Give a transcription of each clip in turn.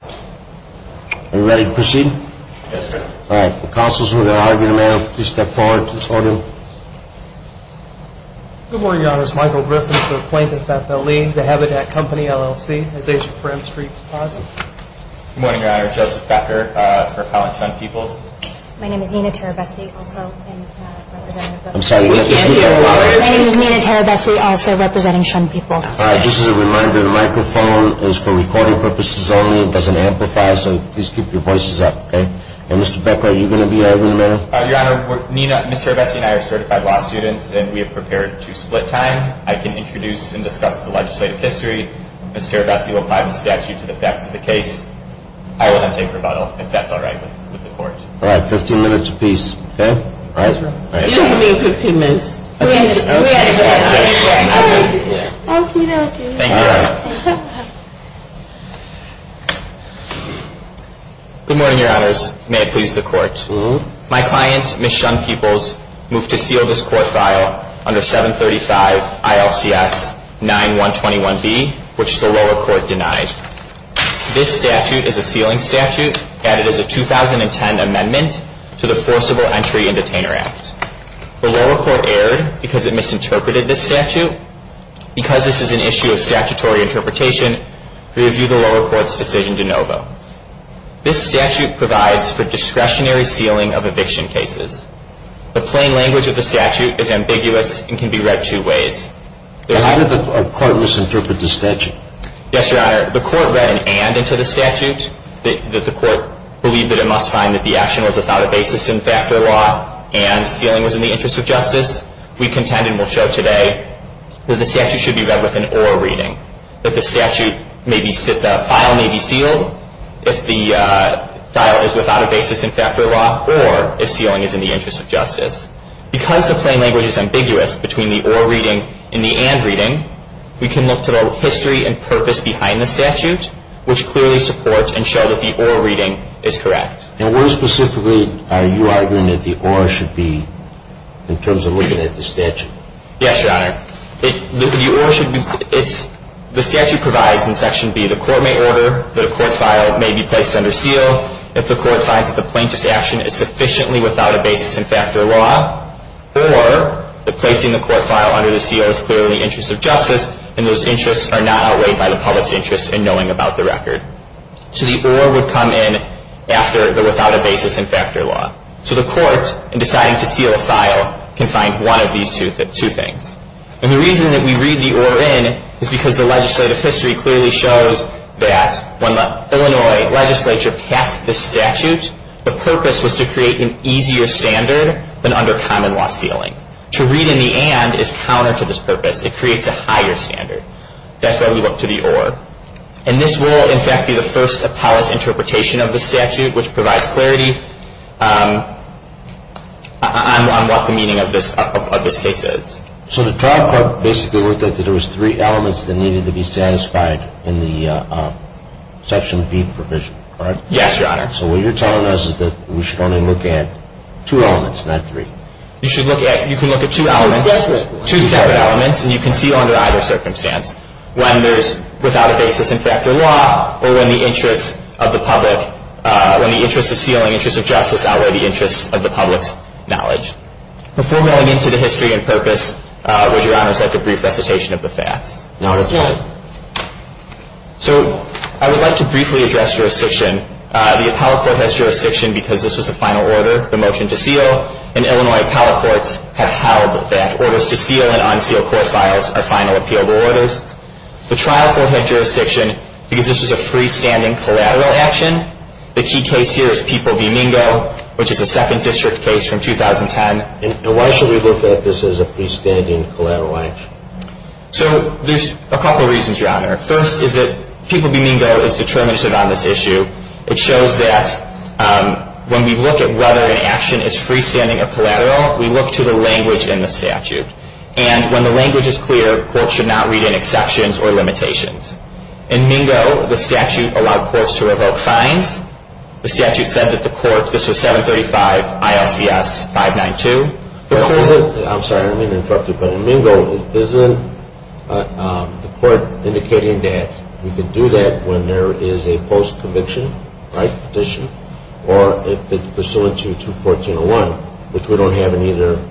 Are you ready to proceed? Yes, sir. All right. The counsel is moving the argument now. Please step forward to this order. Good morning, Your Honor. This is Michael Griffin for the Plaintiff, FFLE, the Habitat Company, LLC. This is a Supreme Street deposit. Good morning, Your Honor. This is Joseph Becker for Appellant Shun Peoples. My name is Nina Terabessi, also representing Shun Peoples. I'm sorry. My name is Nina Terabessi, also representing Shun Peoples. All right. Just as a reminder, the microphone is for recording purposes only. It doesn't amplify, so please keep your voices up, okay? And, Mr. Becker, are you going to be over in a minute? Your Honor, Ms. Terabessi and I are certified law students, and we have prepared to split time. I can introduce and discuss the legislative history. Ms. Terabessi will apply the statute to the facts of the case. I will not take rebuttal, if that's all right with the Court. All right. Fifteen minutes apiece, okay? All right. You don't have to be in fifteen minutes. Okay. Thank you, Your Honor. Good morning, Your Honors. May it please the Court. My client, Ms. Shun Peoples, moved to seal this court file under 735 ILCS 9-121B, which the lower court denied. This statute is a sealing statute added as a 2010 amendment to the Forcible Entry and Detainer Act. The lower court erred because it misinterpreted this statute. Because this is an issue of statutory interpretation, we review the lower court's decision de novo. This statute provides for discretionary sealing of eviction cases. The plain language of the statute is ambiguous and can be read two ways. Did the court misinterpret the statute? Yes, Your Honor. The court read an and into the statute. Did the court believe that it must find that the action was without a basis in factor law and sealing was in the interest of justice? We contend and will show today that the statute should be read with an or reading, that the file may be sealed if the file is without a basis in factor law or if sealing is in the interest of justice. Because the plain language is ambiguous between the or reading and the and reading, we can look to the history and purpose behind the statute, which clearly supports and shows that the or reading is correct. And where specifically are you arguing that the or should be in terms of looking at the statute? Yes, Your Honor. The statute provides in Section B, the court may order that a court file may be placed under seal if the court finds that the plaintiff's action is sufficiently without a basis in factor law or that placing the court file under the seal is clearly in the interest of justice and those interests are not outweighed by the public's interest in knowing about the record. So the or would come in after the without a basis in factor law. So the court, in deciding to seal a file, can find one of these two things. And the reason that we read the or in is because the legislative history clearly shows that when the Illinois legislature passed the statute, the purpose was to create an easier standard than under common law sealing. To read in the and is counter to this purpose. It creates a higher standard. That's why we look to the or. And this will, in fact, be the first appellate interpretation of the statute, which provides clarity on what the meaning of this case is. So the trial court basically worked out that there was three elements that needed to be satisfied in the Section B provision, correct? Yes, Your Honor. So what you're telling us is that we should only look at two elements, not three. You should look at, you can look at two elements, two separate elements, and you can see under either circumstance when there's without a basis in factor law or when the interest of the public, when the interest of sealing, interest of justice, outweigh the interest of the public's knowledge. Before going into the history and purpose, would Your Honor accept a brief recitation of the facts? Not at this point. So I would like to briefly address jurisdiction. The appellate court has jurisdiction because this was a final order, the motion to seal, and Illinois appellate courts have held that orders to seal and unseal court files are final appealable orders. The trial court had jurisdiction because this was a freestanding collateral action. The key case here is People v. Mingo, which is a second district case from 2010. And why should we look at this as a freestanding collateral action? So there's a couple reasons, Your Honor. First is that People v. Mingo is determinative on this issue. It shows that when we look at whether an action is freestanding or collateral, we look to the language in the statute. And when the language is clear, courts should not read in exceptions or limitations. In Mingo, the statute allowed courts to revoke fines. The statute said that the court, this was 735 ILCS 592. I'm sorry, I'm being interrupted. But in Mingo, isn't the court indicating that you can do that when there is a post-conviction petition or if it's pursuant to 214.01, which we don't have in either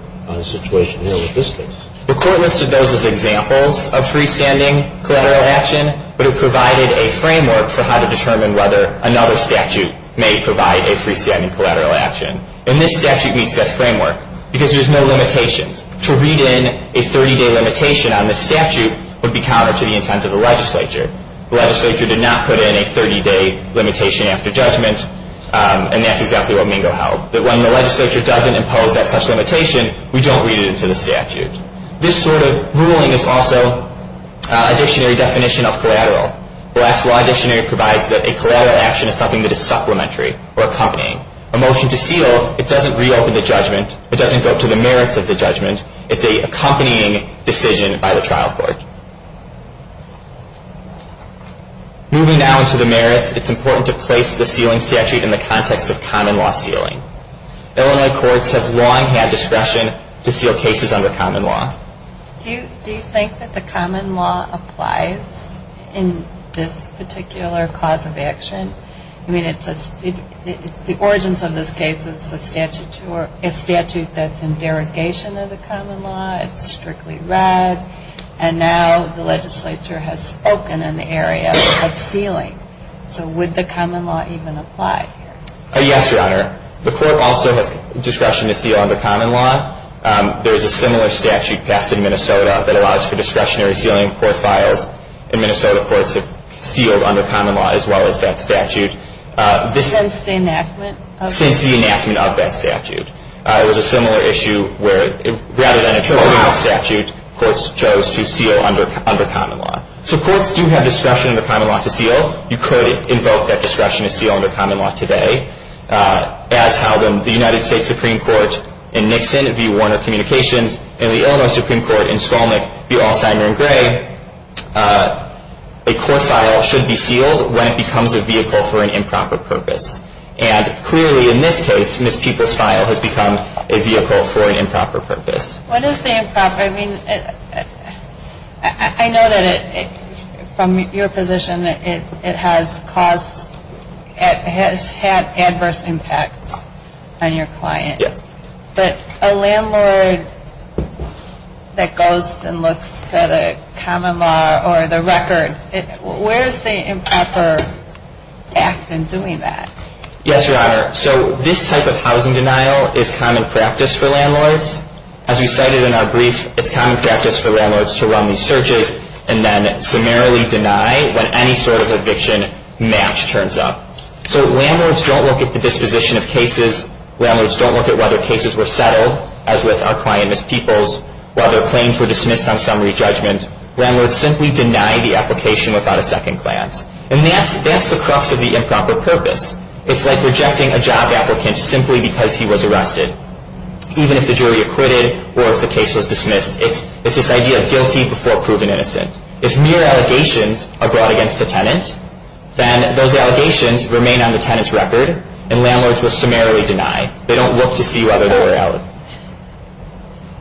situation here with this case. The court listed those as examples of freestanding collateral action, but it provided a framework for how to determine whether another statute may provide a freestanding collateral action. And this statute meets that framework because there's no limitations. To read in a 30-day limitation on the statute would be counter to the intent of the legislature. The legislature did not put in a 30-day limitation after judgment, and that's exactly what Mingo held, that when the legislature doesn't impose that such limitation, we don't read it into the statute. This sort of ruling is also a dictionary definition of collateral. The last law dictionary provides that a collateral action is something that is supplementary or accompanying. A motion to seal, it doesn't reopen the judgment. It doesn't go to the merits of the judgment. It's an accompanying decision by the trial court. Moving now into the merits, it's important to place the sealing statute in the context of common law sealing. Illinois courts have long had discretion to seal cases under common law. Do you think that the common law applies in this particular cause of action? I mean, the origins of this case is a statute that's in derogation of the common law. It's strictly read. And now the legislature has spoken in the area of sealing. So would the common law even apply here? Yes, Your Honor. The court also has discretion to seal under common law. There's a similar statute passed in Minnesota that allows for discretionary sealing of court files, and Minnesota courts have sealed under common law as well as that statute. Since the enactment? Since the enactment of that statute. It was a similar issue where rather than interpreting the statute, courts chose to seal under common law. So courts do have discretion under common law to seal. You could invoke that discretion to seal under common law today. As held in the United States Supreme Court in Nixon v. Warner Communications and the Illinois Supreme Court in Skolnik v. Alzheimer and Gray, a court file should be sealed when it becomes a vehicle for an improper purpose. And clearly in this case, Ms. Peoples' file has become a vehicle for an improper purpose. What is the improper? I mean, I know that from your position it has caused, it has had adverse impact on your client. Yes. But a landlord that goes and looks at a common law or the record, where is the improper act in doing that? Yes, Your Honor. So this type of housing denial is common practice for landlords. As we cited in our brief, it's common practice for landlords to run these searches and then summarily deny when any sort of eviction match turns up. So landlords don't look at the disposition of cases. Landlords don't look at whether cases were settled, as with our client, Ms. Peoples, whether claims were dismissed on summary judgment. Landlords simply deny the application without a second glance. And that's the crux of the improper purpose. It's like rejecting a job applicant simply because he was arrested, even if the jury acquitted or if the case was dismissed. It's this idea of guilty before proven innocent. If mere allegations are brought against a tenant, then those allegations remain on the tenant's record and landlords will summarily deny. They don't look to see whether they were outed.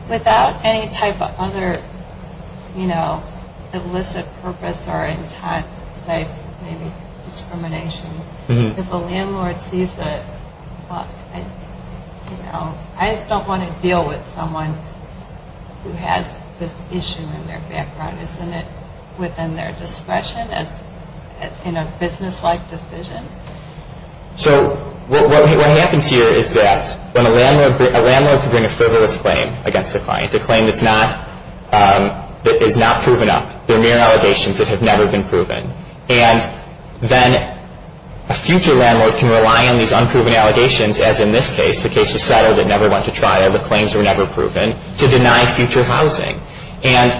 Without any type of other, you know, illicit purpose or in time-safe discrimination, if a landlord sees that, you know, I just don't want to deal with someone who has this issue in their background, isn't it within their discretion in a business-like decision? So what happens here is that when a landlord can bring a frivolous claim against a client, a claim that's not proven up, they're mere allegations that have never been proven. And then a future landlord can rely on these unproven allegations, as in this case, the case was settled and never went to trial, the claims were never proven, to deny future housing. And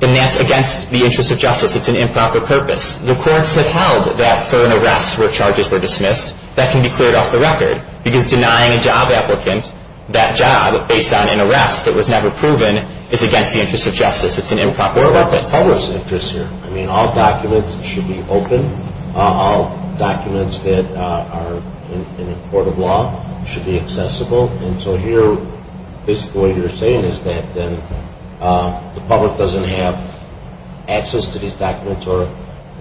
that's against the interest of justice. It's an improper purpose. The courts have held that for an arrest where charges were dismissed, that can be cleared off the record. Because denying a job applicant that job based on an arrest that was never proven is against the interest of justice. It's an improper purpose. What about the public's interest here? I mean, all documents should be open. All documents that are in a court of law should be accessible. And so here, basically what you're saying is that then the public doesn't have access to these documents or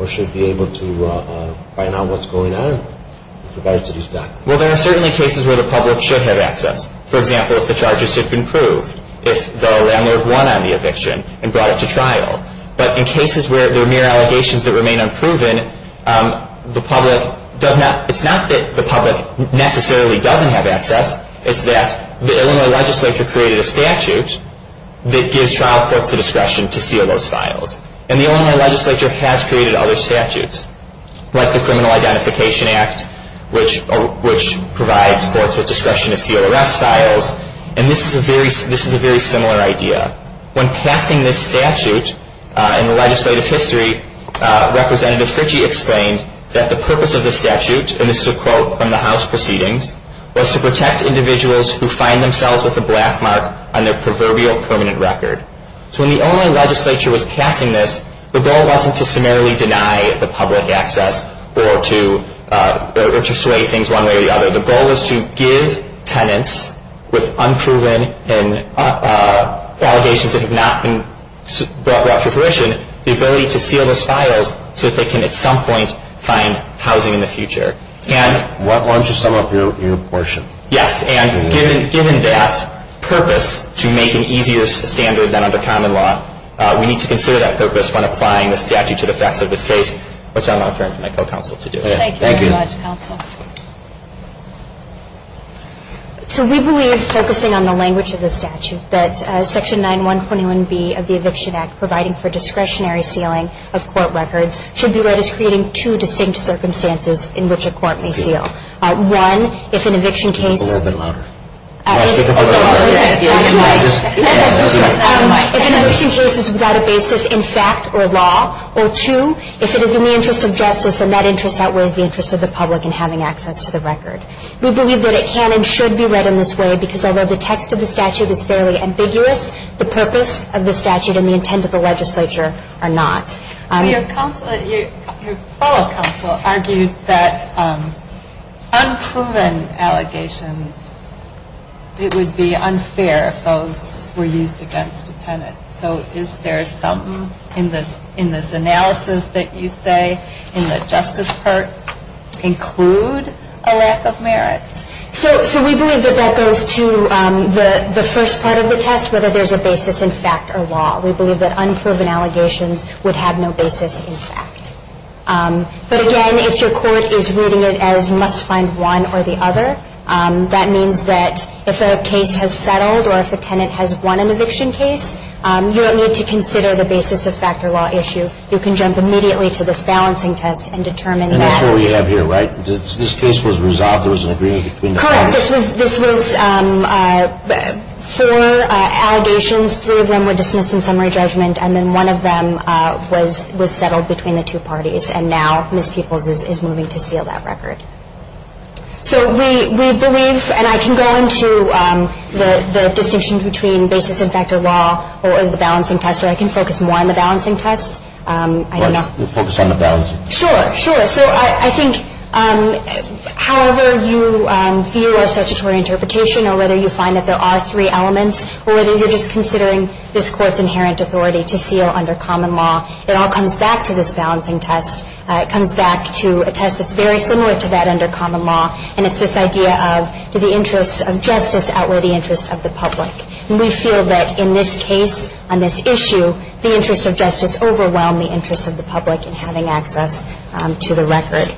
should be able to find out what's going on with regard to these documents. Well, there are certainly cases where the public should have access. For example, if the charges had been proved, if the landlord won on the eviction and brought it to trial. But in cases where they're mere allegations that remain unproven, it's not that the public necessarily doesn't have access. It's that the Illinois legislature created a statute that gives trial courts the discretion to seal those files. And the Illinois legislature has created other statutes, like the Criminal Identification Act, which provides courts with discretion to seal arrest files. And this is a very similar idea. When passing this statute in the legislative history, Representative Fritchie explained that the purpose of the statute, and this is a quote from the House proceedings, was to protect individuals who find themselves with a black mark on their proverbial permanent record. So when the Illinois legislature was passing this, the goal wasn't to summarily deny the public access or to sway things one way or the other. The goal was to give tenants with unproven allegations that have not been brought to fruition the ability to seal those files so that they can at some point find housing in the future. Why don't you sum up your portion? Yes, and given that purpose to make an easier standard than under common law, we need to consider that purpose when applying the statute to the facts of this case, which I'm now turning to my co-counsel to do. Thank you very much, counsel. So we believe, focusing on the language of the statute, that Section 9-121B of the Eviction Act, providing for discretionary sealing of court records, should be read as creating two distinct circumstances in which a court may seal. One, if an eviction case is without a basis in fact or law, or two, if it is in the interest of justice and that interest outweighs the interest of the public in having access to the record. We believe that it can and should be read in this way because although the text of the statute is fairly ambiguous, the purpose of the statute and the intent of the legislature are not. Your fellow counsel argued that unproven allegations, it would be unfair if those were used against a tenant. So is there something in this analysis that you say, in the justice part, include a lack of merit? So we believe that that goes to the first part of the test, whether there's a basis in fact or law. We believe that unproven allegations would have no basis in fact. But again, if your court is reading it as must find one or the other, that means that if a case has settled or if a tenant has won an eviction case, you don't need to consider the basis of fact or law issue. You can jump immediately to this balancing test and determine the matter. And that's what we have here, right? This case was resolved. There was an agreement between the parties. Correct. This was four allegations. Three of them were dismissed in summary judgment, and then one of them was settled between the two parties. And now Ms. Peoples is moving to seal that record. So we believe, and I can go into the distinction between basis in fact or law or the balancing test, or I can focus more on the balancing test. Right. You'll focus on the balancing test. Sure, sure. So I think however you view our statutory interpretation or whether you find that there are three elements or whether you're just considering this Court's inherent authority to seal under common law, it all comes back to this balancing test. It comes back to a test that's very similar to that under common law, and it's this idea of do the interests of justice outweigh the interests of the public. And we feel that in this case, on this issue, the interests of justice overwhelm the interests of the public in having access to the record.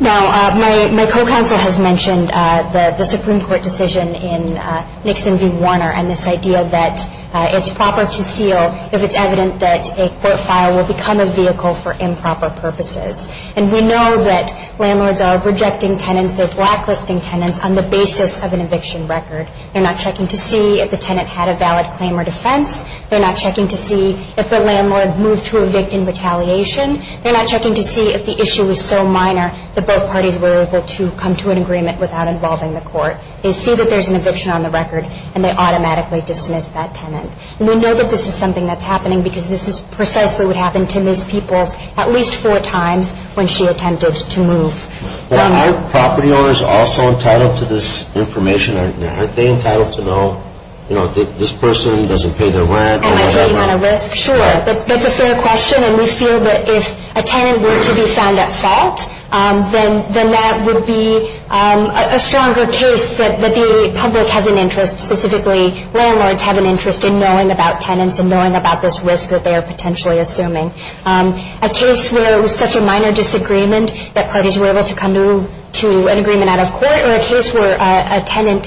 Now, my co-counsel has mentioned the Supreme Court decision in Nixon v. Warner and this idea that it's proper to seal if it's evident that a court file will become a vehicle for improper purposes. And we know that landlords are rejecting tenants. They're blacklisting tenants on the basis of an eviction record. They're not checking to see if the tenant had a valid claim or defense. They're not checking to see if the landlord moved to evict in retaliation. They're not checking to see if the issue was so minor that both parties were able to come to an agreement without involving the court. They see that there's an eviction on the record, and they automatically dismiss that tenant. And we know that this is something that's happening because this is precisely what happened to Ms. Peoples at least four times when she attempted to move. Are property owners also entitled to this information? Are they entitled to know, you know, this person doesn't pay their rent? Am I taking on a risk? Sure. That's a fair question, and we feel that if a tenant were to be found at fault, then that would be a stronger case that the public has an interest, specifically landlords have an interest in knowing about tenants and knowing about this risk that they are potentially assuming. A case where it was such a minor disagreement that parties were able to come to an agreement out of court or a case where a tenant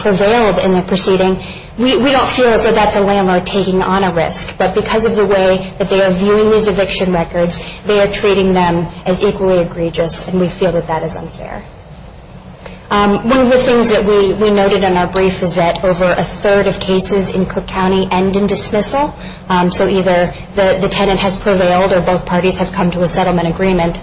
prevailed in the proceeding, we don't feel as though that's a landlord taking on a risk. But because of the way that they are viewing these eviction records, they are treating them as equally egregious, and we feel that that is unfair. One of the things that we noted in our brief is that over a third of cases in Cook County end in dismissal. So either the tenant has prevailed or both parties have come to a settlement agreement.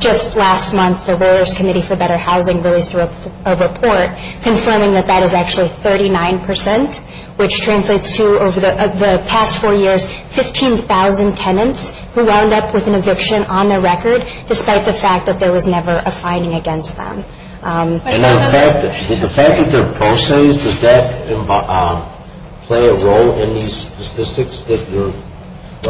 Just last month, the Rulers Committee for Better Housing released a report confirming that that is actually 39 percent, which translates to, over the past four years, 15,000 tenants who wound up with an eviction on their record, despite the fact that there was never a finding against them. And the fact that they're pro se, does that play a role in these statistics that you're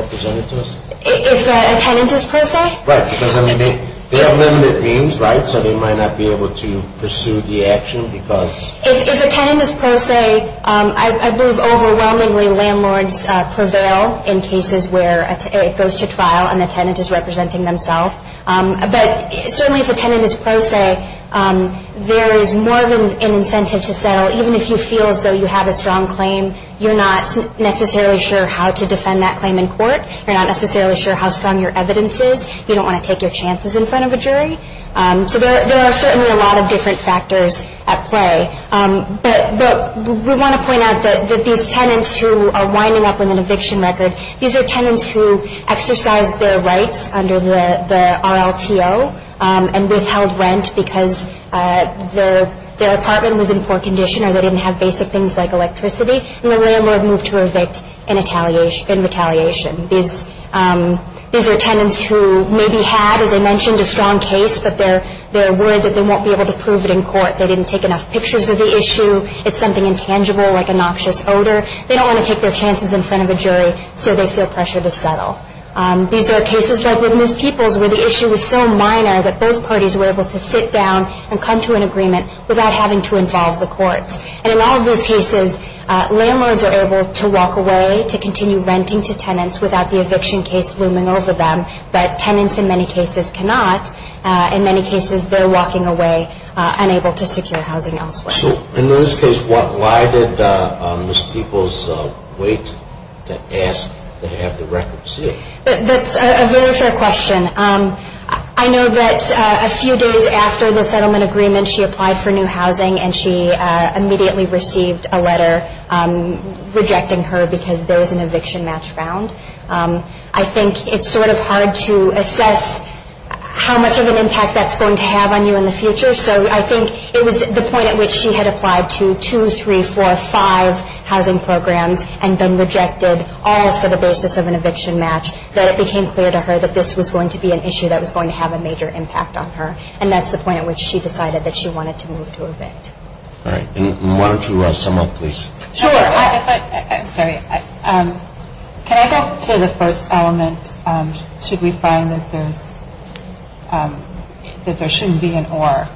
representing to us? If a tenant is pro se? Right, because they have limited means, right? So they might not be able to pursue the action because... If a tenant is pro se, I believe overwhelmingly landlords prevail in cases where it goes to trial and the tenant is representing themselves. But certainly if a tenant is pro se, there is more of an incentive to settle. Even if you feel as though you have a strong claim, you're not necessarily sure how to defend that claim in court. You're not necessarily sure how strong your evidence is. You don't want to take your chances in front of a jury. So there are certainly a lot of different factors at play. But we want to point out that these tenants who are winding up with an eviction record, these are tenants who exercised their rights under the RLTO and withheld rent because their apartment was in poor condition or they didn't have basic things like electricity, and the landlord moved to evict in retaliation. These are tenants who maybe had, as I mentioned, a strong case, but they're worried that they won't be able to prove it in court. They didn't take enough pictures of the issue. It's something intangible like a noxious odor. They don't want to take their chances in front of a jury, so they feel pressure to settle. These are cases like the Miss Peoples where the issue was so minor that both parties were able to sit down and come to an agreement without having to involve the courts. And in all of those cases, landlords are able to walk away to continue renting to tenants without the eviction case looming over them, but tenants in many cases cannot. In many cases, they're walking away unable to secure housing elsewhere. So in this case, why did Miss Peoples wait to ask to have the record sealed? That's a very fair question. I know that a few days after the settlement agreement, she applied for new housing, and she immediately received a letter rejecting her because there was an eviction match found. I think it's sort of hard to assess how much of an impact that's going to have on you in the future, so I think it was the point at which she had applied to two, three, four, five housing programs and been rejected all for the basis of an eviction match that it became clear to her that this was going to be an issue that was going to have a major impact on her, and that's the point at which she decided that she wanted to move to evict. All right. Why don't you sum up, please? Sure. I'm sorry. Can I go to the first element, should we find that there shouldn't be an or?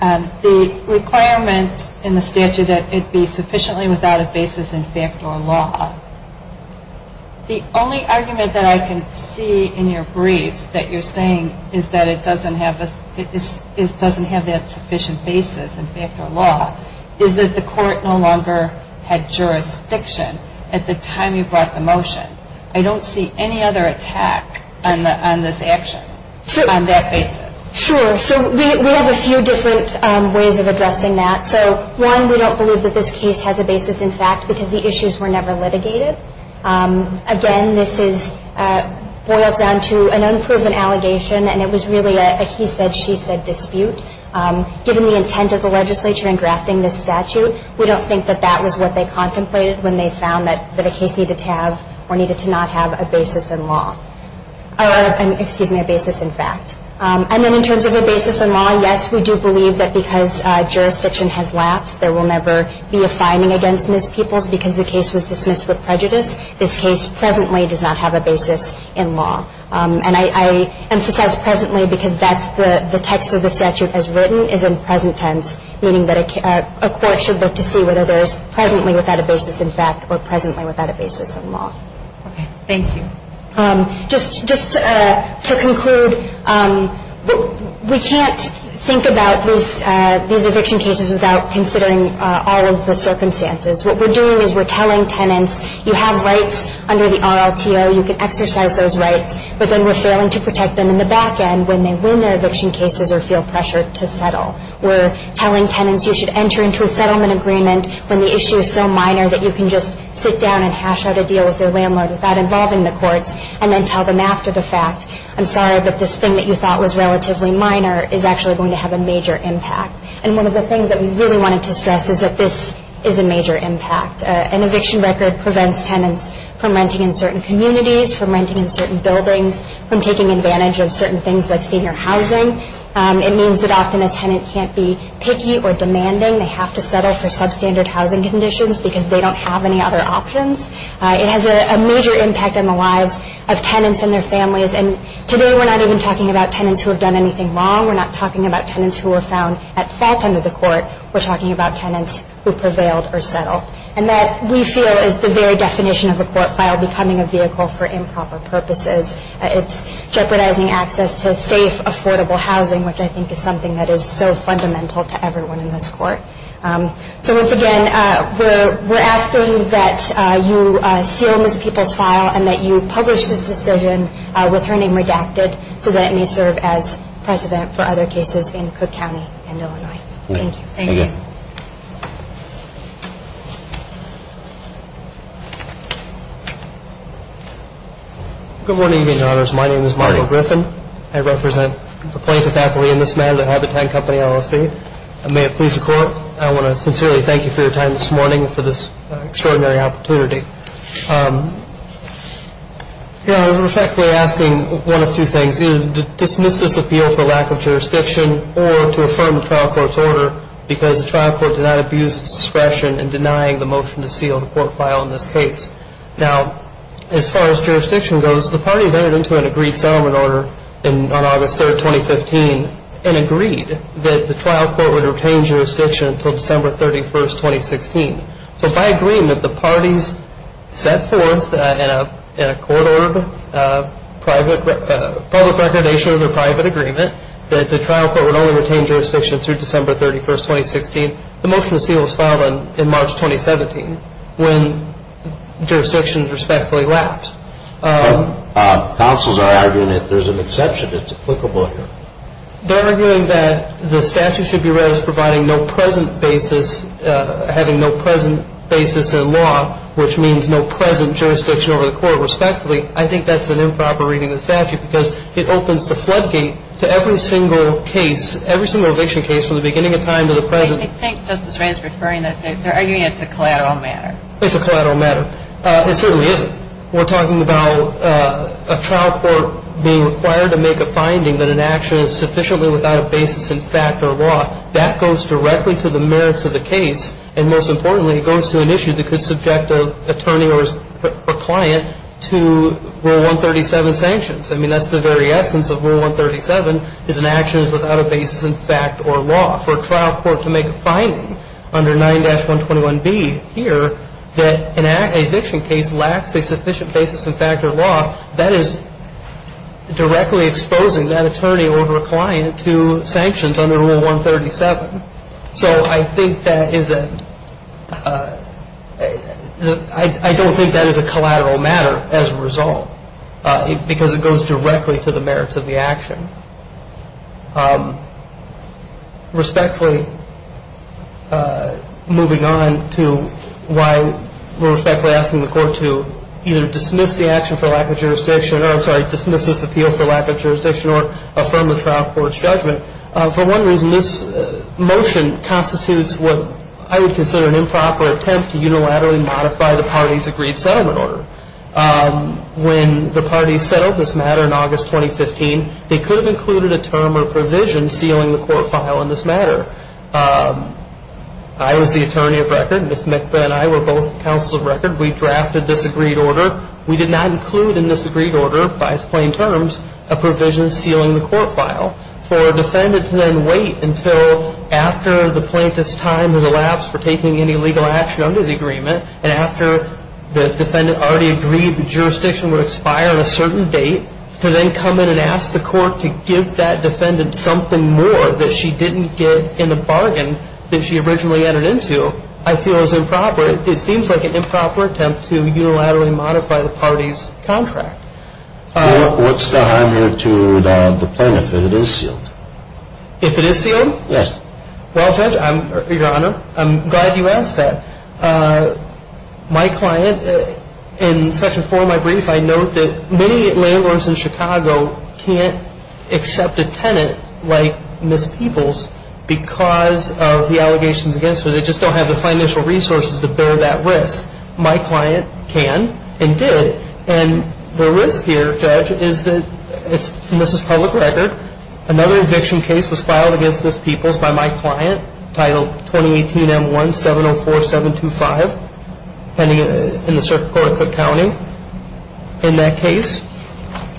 The requirement in the statute that it be sufficiently without a basis in fact or law. The only argument that I can see in your briefs that you're saying is that it doesn't have that sufficient basis in fact or law is that the court no longer had jurisdiction at the time you brought the motion. I don't see any other attack on this action on that basis. Sure. So we have a few different ways of addressing that. So, one, we don't believe that this case has a basis in fact because the issues were never litigated. Again, this boils down to an unproven allegation, and it was really a he said, she said dispute. Given the intent of the legislature in drafting this statute, we don't think that that was what they contemplated when they found that a case needed to have or needed to not have a basis in fact. And then in terms of a basis in law, yes, we do believe that because jurisdiction has lapsed, there will never be a fining against mispeoples because the case was dismissed with prejudice. This case presently does not have a basis in law. And I emphasize presently because that's the text of the statute as written is in present tense, meaning that a court should look to see whether there is presently without a basis in fact or presently without a basis in law. Okay. Thank you. Just to conclude, we can't think about these eviction cases without considering all of the circumstances. What we're doing is we're telling tenants you have rights under the RLTO, you can exercise those rights, but then we're failing to protect them in the back end when they win their eviction cases or feel pressured to settle. We're telling tenants you should enter into a settlement agreement when the issue is so minor that you can just sit down and hash out a deal with your landlord without involving the courts and then tell them after the fact, I'm sorry, but this thing that you thought was relatively minor is actually going to have a major impact. And one of the things that we really wanted to stress is that this is a major impact. An eviction record prevents tenants from renting in certain communities, from renting in certain buildings, from taking advantage of certain things like senior housing. It means that often a tenant can't be picky or demanding. They have to settle for substandard housing conditions because they don't have any other options. It has a major impact on the lives of tenants and their families. And today we're not even talking about tenants who have done anything wrong. We're not talking about tenants who were found at fault under the court. We're talking about tenants who prevailed or settled. And that, we feel, is the very definition of a court file becoming a vehicle for improper purposes. It's jeopardizing access to safe, affordable housing, which I think is something that is so fundamental to everyone in this court. So once again, we're asking that you seal Ms. Peoples' file and that you publish this decision with her name redacted so that it may serve as precedent for other cases in Cook County and Illinois. Thank you. Thank you. Good morning, Your Honors. My name is Martin Griffin. I represent the plaintiff's affiliate in this matter, the Habitat Company LLC. May it please the Court, I want to sincerely thank you for your time this morning and for this extraordinary opportunity. Your Honors, I was actually asking one of two things, either to dismiss this appeal for lack of jurisdiction or to affirm the trial court's order because the trial court did not abuse its discretion in denying the motion to seal the court file in this case. Now, as far as jurisdiction goes, the parties entered into an agreed settlement order on August 3rd, 2015 and agreed that the trial court would retain jurisdiction until December 31st, 2016. So by agreeing that the parties set forth in a court order, public recordation of their private agreement, that the trial court would only retain jurisdiction through December 31st, 2016, the motion to seal was filed in March 2017. When jurisdiction respectfully lapsed. Counsels are arguing that there's an exception that's applicable here. They're arguing that the statute should be read as providing no present basis, having no present basis in law, which means no present jurisdiction over the court respectfully. I think that's an improper reading of the statute because it opens the floodgate to every single case, every single eviction case from the beginning of time to the present. I think Justice Ray is referring that they're arguing it's a collateral matter. It's a collateral matter. It certainly isn't. We're talking about a trial court being required to make a finding that an action is sufficiently without a basis in fact or law. That goes directly to the merits of the case, and most importantly, it goes to an issue that could subject an attorney or client to Rule 137 sanctions. I mean, that's the very essence of Rule 137 is an action is without a basis in fact or law. For a trial court to make a finding under 9-121B here that an eviction case lacks a sufficient basis in fact or law, that is directly exposing that attorney or client to sanctions under Rule 137. So I think that is a – I don't think that is a collateral matter as a result because it goes directly to the merits of the action. Respectfully, moving on to why we're respectfully asking the court to either dismiss the action for lack of jurisdiction, or I'm sorry, dismiss this appeal for lack of jurisdiction, or affirm the trial court's judgment. For one reason, this motion constitutes what I would consider an improper attempt to unilaterally modify the party's agreed settlement order. When the parties settled this matter in August 2015, they could have included a term or provision sealing the court file on this matter. I was the attorney of record, Ms. McBeth and I were both counsels of record. We drafted this agreed order. We did not include in this agreed order by its plain terms a provision sealing the court file for a defendant to then wait until after the plaintiff's time has elapsed for taking any legal action under the agreement, and after the defendant already agreed the jurisdiction would expire on a certain date, to then come in and ask the court to give that defendant something more that she didn't get in the bargain that she originally entered into, I feel is improper. It seems like an improper attempt to unilaterally modify the party's contract. What's the harm here to the plaintiff if it is sealed? If it is sealed? Yes. Well, Judge, Your Honor, I'm glad you asked that. My client, in Section 4 of my brief, I note that many landlords in Chicago can't accept a tenant like Ms. Peoples because of the allegations against her. They just don't have the financial resources to bear that risk. My client can and did, and the risk here, Judge, is that this is public record. Another eviction case was filed against Ms. Peoples by my client, titled 2018-M1-704725, pending in the Circuit Court of Cook County. In that case,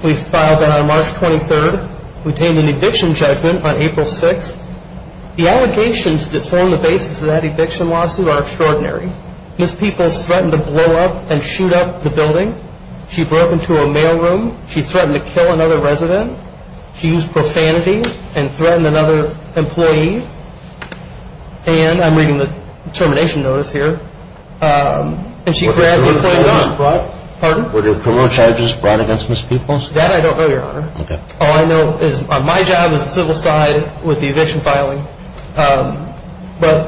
we filed that on March 23rd. We obtained an eviction judgment on April 6th. The allegations that form the basis of that eviction lawsuit are extraordinary. Ms. Peoples threatened to blow up and shoot up the building. She broke into a mailroom. She threatened to kill another resident. She used profanity and threatened another employee. And I'm reading the termination notice here. And she grabbed the employee's arm. Were there criminal charges brought? Pardon? Were there criminal charges brought against Ms. Peoples? That I don't know, Your Honor. Okay. All I know is my job is the civil side with the eviction filing.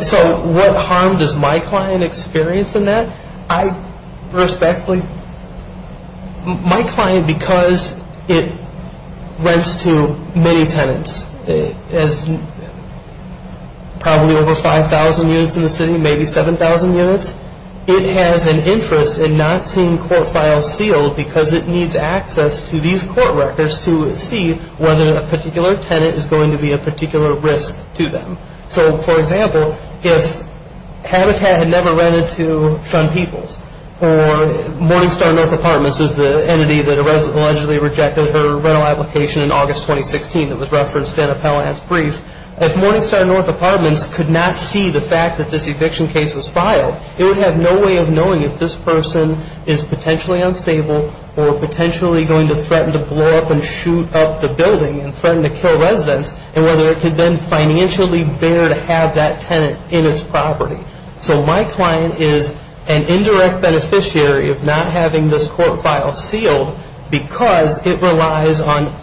So what harm does my client experience in that? Respectfully, my client, because it rents to many tenants, probably over 5,000 units in the city, maybe 7,000 units, it has an interest in not seeing court files sealed because it needs access to these court records to see whether a particular tenant is going to be a particular risk to them. So, for example, if Habitat had never rented to Sean Peoples, or Morningstar North Apartments is the entity that allegedly rejected her rental application in August 2016 that was referenced in Appellant's brief, if Morningstar North Apartments could not see the fact that this eviction case was filed, it would have no way of knowing if this person is potentially unstable or potentially going to threaten to blow up and shoot up the building and threaten to kill residents and whether it could then financially bear to have that tenant in its property. So my client is an indirect beneficiary of not having this court file sealed because it relies on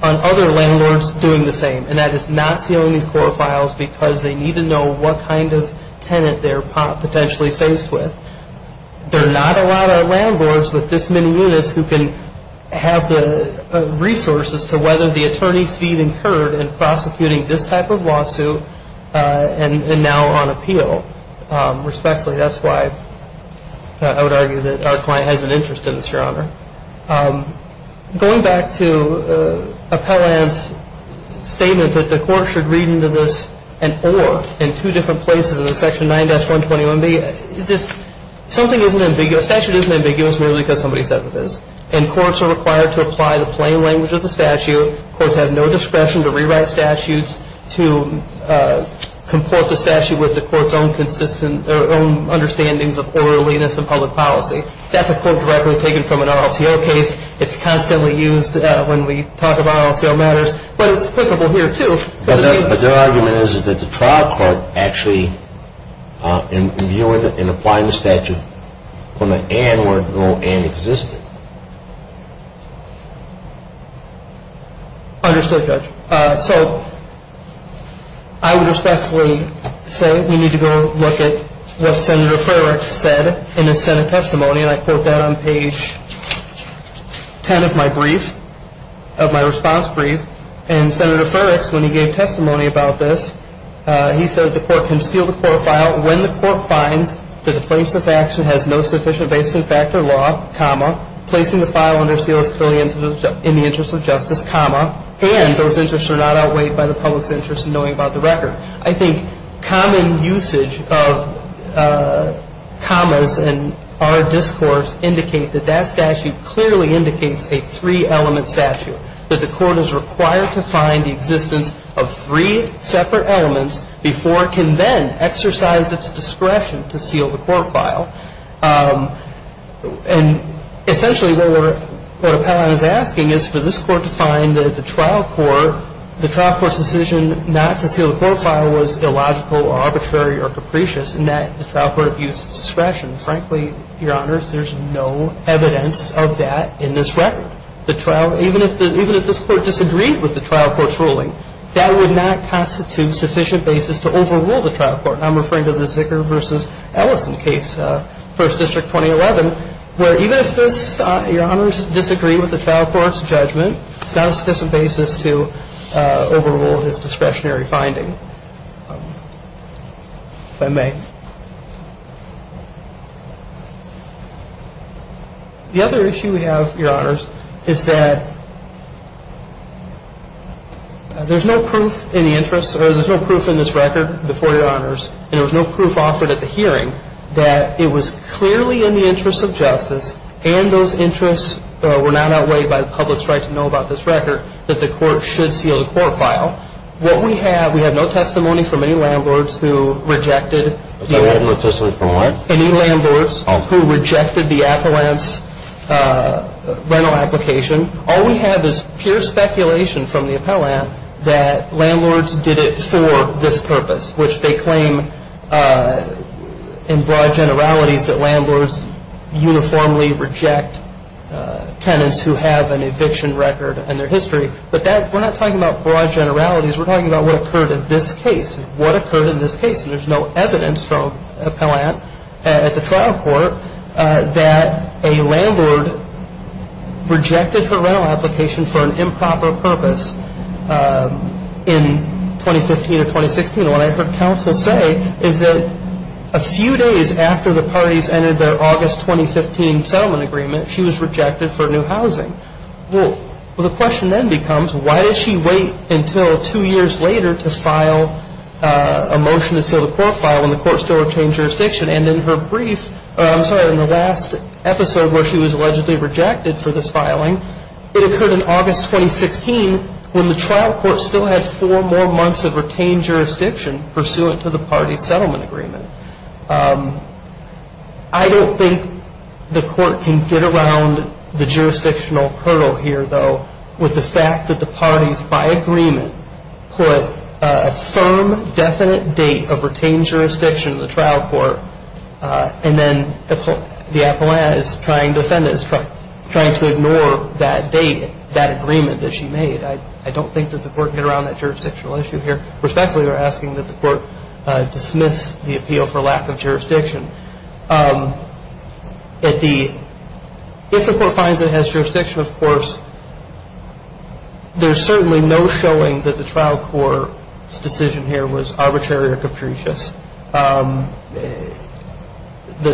other landlords doing the same, and that is not sealing these court files because they need to know what kind of tenant they're potentially faced with. There are not a lot of landlords with this many units who can have the resources to whether the attorney's fee incurred in prosecuting this type of lawsuit and now on appeal. Respectfully, that's why I would argue that our client has an interest in this, Your Honor. Going back to Appellant's statement that the court should read into this and or in two different places in the section 9-121B, statute isn't ambiguous merely because somebody said it is, and courts are required to apply the plain language of the statute. Courts have no discretion to rewrite statutes to comport the statute with the court's own understanding of orderliness and public policy. That's a quote directly taken from an RLTO case. It's constantly used when we talk about RLTO matters, but it's applicable here, too. But their argument is that the trial court actually, in viewing and applying the statute on the an where no an existed. Understood, Judge. So I would respectfully say we need to go look at what Senator Furek said in his Senate testimony, and I quote that on page 10 of my brief, of my response brief. And Senator Furek, when he gave testimony about this, he said the court can seal the court file when the court finds that the plaintiff's action has no sufficient basis in fact or law, comma, placing the file under seal is clearly in the interest of justice, comma, and those interests are not outweighed by the public's interest in knowing about the record. I think common usage of commas in our discourse indicate that that statute clearly indicates a three-element statute, that the court is required to find the existence of three separate elements before it can then exercise its discretion to seal the court file. And essentially what Appellant is asking is for this court to find that the trial court, the trial court's decision not to seal the court file was illogical or arbitrary or capricious in that the trial court abused its discretion. Frankly, Your Honors, there's no evidence of that in this record. The trial, even if this court disagreed with the trial court's ruling, that would not constitute sufficient basis to overrule the trial court. I'm referring to the Zicker v. Ellison case, First District 2011, where even if this, Your Honors, disagreed with the trial court's judgment, it's not a sufficient basis to overrule his discretionary finding, if I may. The other issue we have, Your Honors, is that there's no proof in the interest, or there's no proof in this record before, Your Honors, and there was no proof offered at the hearing that it was clearly in the interest of justice and those interests were not outweighed by the public's right to know about this record, that the court should seal the court file. We have no testimony from any landlords who rejected the appellant's rental application. All we have is pure speculation from the appellant that landlords did it for this purpose, which they claim in broad generalities that landlords uniformly reject tenants who have an eviction record and their history. But we're not talking about broad generalities. We're talking about what occurred in this case. What occurred in this case, and there's no evidence from the appellant at the trial court, that a landlord rejected her rental application for an improper purpose in 2015 or 2016. And what I heard counsel say is that a few days after the parties entered their August 2015 settlement agreement, she was rejected for new housing. Well, the question then becomes, why did she wait until two years later to file a motion to seal the court file when the court still retained jurisdiction? And in her brief, I'm sorry, in the last episode where she was allegedly rejected for this filing, it occurred in August 2016 when the trial court still had four more months of retained jurisdiction pursuant to the parties' settlement agreement. I don't think the court can get around the jurisdictional hurdle here, though, with the fact that the parties, by agreement, put a firm, definite date of retained jurisdiction in the trial court, and then the appellant is trying to defend it, is trying to ignore that date, that agreement that she made. I don't think that the court can get around that jurisdictional issue here. Respectfully, we're asking that the court dismiss the appeal for lack of jurisdiction. If the court finds it has jurisdiction, of course, there's certainly no showing that the trial court's decision here was arbitrary or capricious. The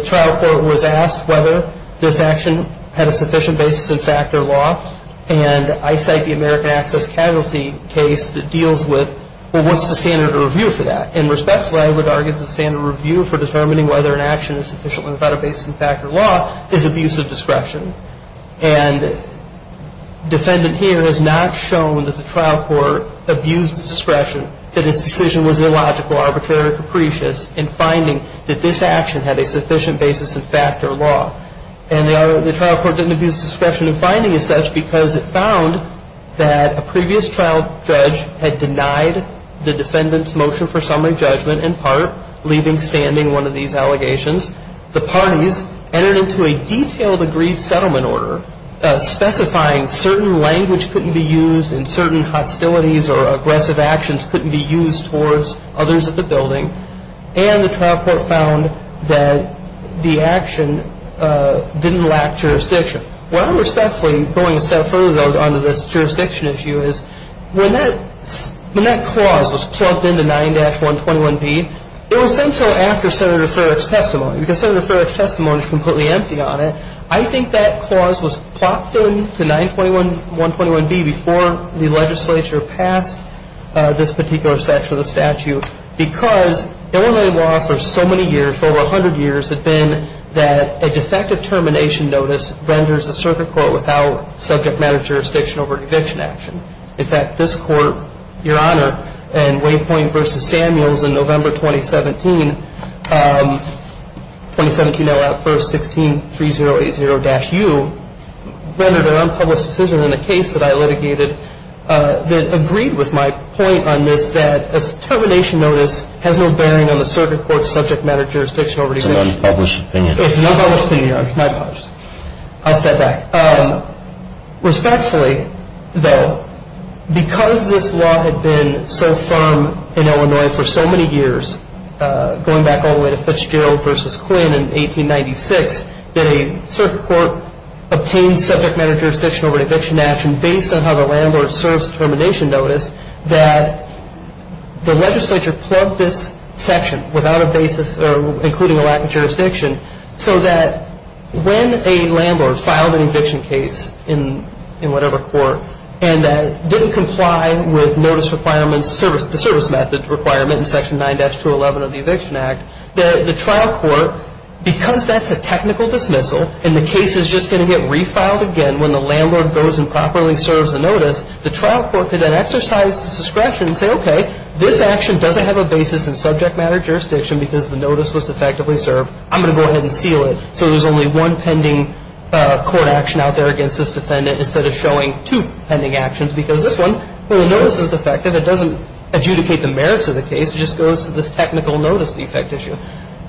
trial court was asked whether this action had a sufficient basis in fact or law, and I cite the American Access Casualty case that deals with, well, what's the standard of review for that? And respectfully, I would argue the standard of review for determining whether an action is sufficient without a basis in fact or law is abuse of discretion. And defendant here has not shown that the trial court abused discretion, that its decision was illogical, arbitrary or capricious, in finding that this action had a sufficient basis in fact or law. And the trial court didn't abuse discretion in finding as such because it found that a previous trial judge had denied the defendant's motion for summary judgment, in part, leaving standing one of these allegations. The parties entered into a detailed agreed settlement order specifying certain language couldn't be used and certain hostilities or aggressive actions couldn't be used towards others at the building. And the trial court found that the action didn't lack jurisdiction. What I'm respectfully going a step further, though, on this jurisdiction issue is when that clause was plopped into 9-121B, it was done so after Senator Farrick's testimony because Senator Farrick's testimony is completely empty on it. I think that clause was plopped into 921B before the legislature passed this particular section of the statute because Illinois law for so many years, for over 100 years, had been that a defective termination notice renders a circuit court without subject matter jurisdiction over an eviction action. In fact, this court, Your Honor, in Waypoint v. Samuels in November 2017, 2017-01-16-3080-U, rendered an unpublished decision in a case that I litigated that agreed with my point on this that a termination notice has no bearing on the circuit court's subject matter jurisdiction over eviction. It's an unpublished opinion. It's an unpublished opinion, Your Honor. My apologies. I'll step back. Respectfully, though, because this law had been so firm in Illinois for so many years, going back all the way to Fitzgerald v. Quinn in 1896, that a circuit court obtained subject matter jurisdiction over an eviction action based on how the landlord serves termination notice, that the legislature plugged this section without a basis, including a lack of jurisdiction, so that when a landlord filed an eviction case in whatever court and didn't comply with the service methods requirement in Section 9-211 of the Eviction Act, the trial court, because that's a technical dismissal and the case is just going to get refiled again when the landlord goes and properly serves the notice, the trial court could then exercise discretion and say, okay, this action doesn't have a basis in subject matter jurisdiction because the notice was defectively served, I'm going to go ahead and seal it so there's only one pending court action out there against this defendant instead of showing two pending actions because this one, well, the notice is defective. It doesn't adjudicate the merits of the case. It just goes to this technical notice defect issue.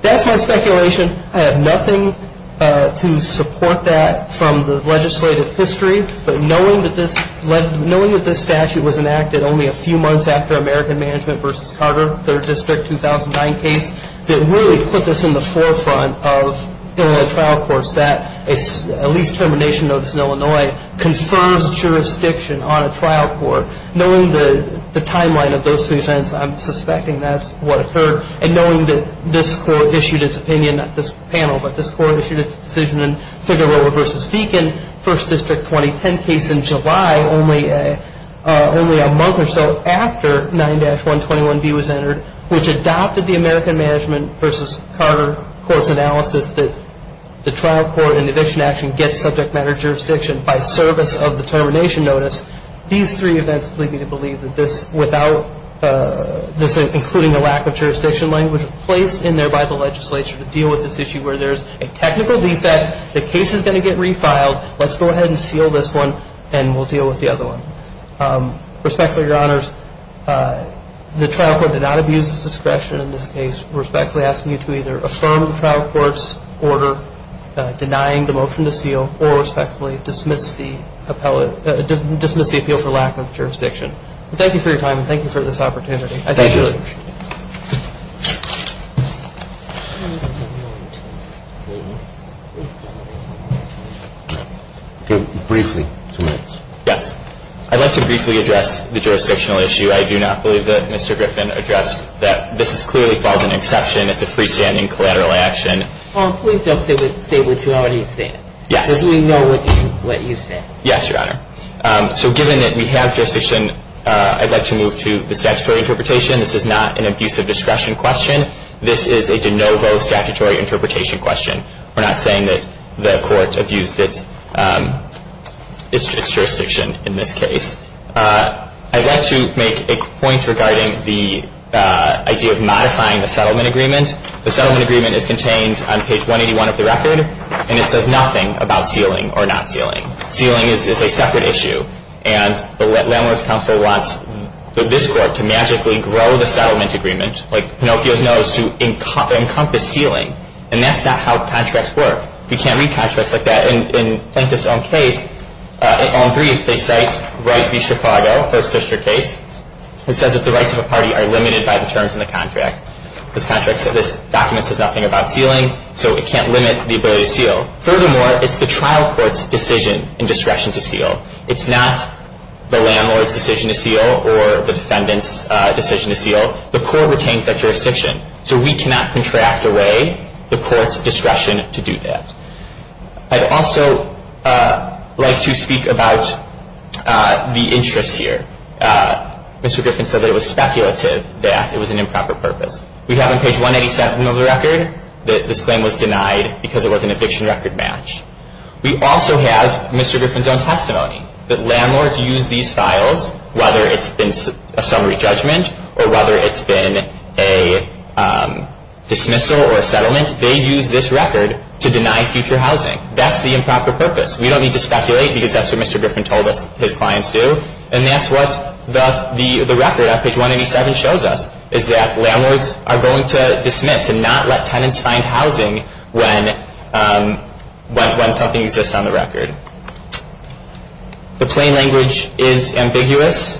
That's my speculation. I have nothing to support that from the legislative history, but knowing that this statute was enacted only a few months after American Management v. Carter, 3rd District 2009 case, that really put this in the forefront of Illinois trial courts that a lease termination notice in Illinois confers jurisdiction on a trial court. Knowing the timeline of those two events, I'm suspecting that's what occurred, and knowing that this court issued its opinion, not this panel, but this court issued its decision in Figueroa v. Deakin, 1st District 2010 case in July, only a month or so after 9-121B was entered, which adopted the American Management v. Carter court's analysis that the trial court in eviction action gets subject matter jurisdiction by service of the termination notice. These three events lead me to believe that this, without this including a lack of jurisdiction language, was placed in there by the legislature to deal with this issue where there's a technical defect, the case is going to get refiled, let's go ahead and seal this one, and we'll deal with the other one. Respectfully, Your Honors, the trial court did not abuse its discretion in this case. We're respectfully asking you to either affirm the trial court's order denying the motion to seal, or respectfully dismiss the appeal for lack of jurisdiction. Thank you for your time, and thank you for this opportunity. Thank you. Briefly. Yes. I'd like to briefly address the jurisdictional issue. I do not believe that Mr. Griffin addressed that this clearly falls in exception. It's a freestanding collateral action. Paul, please don't say what you already said. Yes. Because we know what you said. Yes, Your Honor. So given that we have jurisdiction, I'd like to move to the statutory interpretation. This is not an abuse of discretion question. This is a de novo statutory interpretation question. We're not saying that the court abused its jurisdiction in this case. I'd like to make a point regarding the idea of modifying the settlement agreement. The settlement agreement is contained on page 181 of the record, and it says nothing about sealing or not sealing. Sealing is a separate issue, and the Landlords Council wants this court to magically grow the settlement agreement, like Pinocchio's nose, to encompass sealing. And that's not how contracts work. We can't read contracts like that. In Plaintiff's own brief, they cite Wright v. Chicago, first district case. It says that the rights of a party are limited by the terms in the contract. This document says nothing about sealing, so it can't limit the ability to seal. Furthermore, it's the trial court's decision and discretion to seal. It's not the landlord's decision to seal or the defendant's decision to seal. The court retains that jurisdiction, so we cannot contract away the court's discretion to do that. I'd also like to speak about the interest here. Mr. Griffin said that it was speculative, that it was an improper purpose. We have on page 187 of the record that this claim was denied because it was an eviction record match. We also have Mr. Griffin's own testimony that landlords use these files, whether it's been a summary judgment or whether it's been a dismissal or a settlement, they use this record to deny future housing. That's the improper purpose. We don't need to speculate because that's what Mr. Griffin told us his clients do, and that's what the record on page 187 shows us, is that landlords are going to dismiss and not let tenants find housing when something exists on the record. The plain language is ambiguous.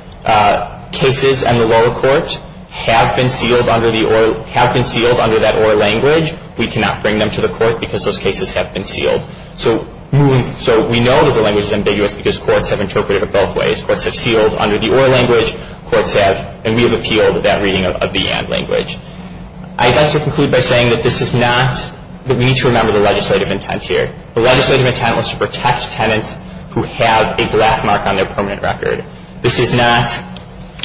Cases in the lower court have been sealed under that OR language. We cannot bring them to the court because those cases have been sealed. So we know that the language is ambiguous because courts have interpreted it both ways. Courts have sealed under the OR language, and we have appealed that reading of the AND language. I'd like to conclude by saying that we need to remember the legislative intent here. The legislative intent was to protect tenants who have a black mark on their permanent record. This is not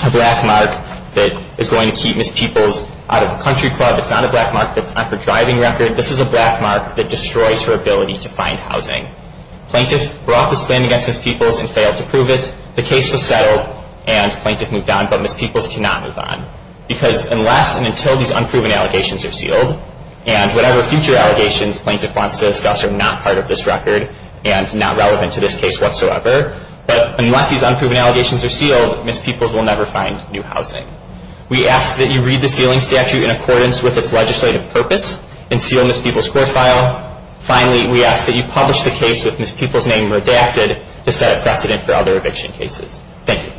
a black mark that is going to keep Miss Peoples out of the country club. It's not a black mark that's on her driving record. This is a black mark that destroys her ability to find housing. Plaintiff brought this claim against Miss Peoples and failed to prove it. The case was settled, and plaintiff moved on, but Miss Peoples cannot move on. Because unless and until these unproven allegations are sealed, and whatever future allegations plaintiff wants to discuss are not part of this record and not relevant to this case whatsoever, but unless these unproven allegations are sealed, Miss Peoples will never find new housing. We ask that you read the sealing statute in accordance with its legislative purpose and seal Miss Peoples' court file. Finally, we ask that you publish the case with Miss Peoples' name redacted to set a precedent for other eviction cases. Thank you.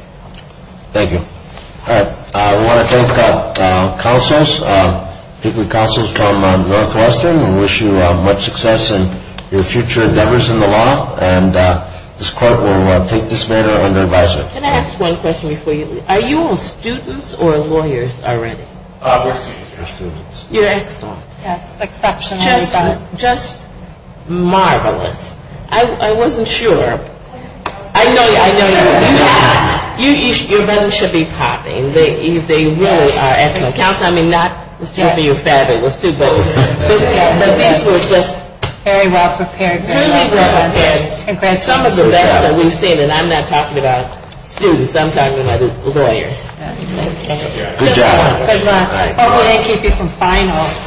Thank you. All right. We want to thank our counselors, particularly counselors from Northwestern. We wish you much success in your future endeavors in the law, and this court will take this matter under advisement. Can I ask one question before you leave? Are you all students or lawyers already? We're students. You're excellent. Yes. Exceptionally good. Just marvelous. I wasn't sure. I know you. I know you. Your business should be popping. They really are excellent. I mean, not to be fabulous, too, but these were just truly well-prepared. Some of the best that we've seen, and I'm not talking about students. I'm talking about the lawyers. Thank you. Good job. Good luck. Hope we didn't keep you from finals.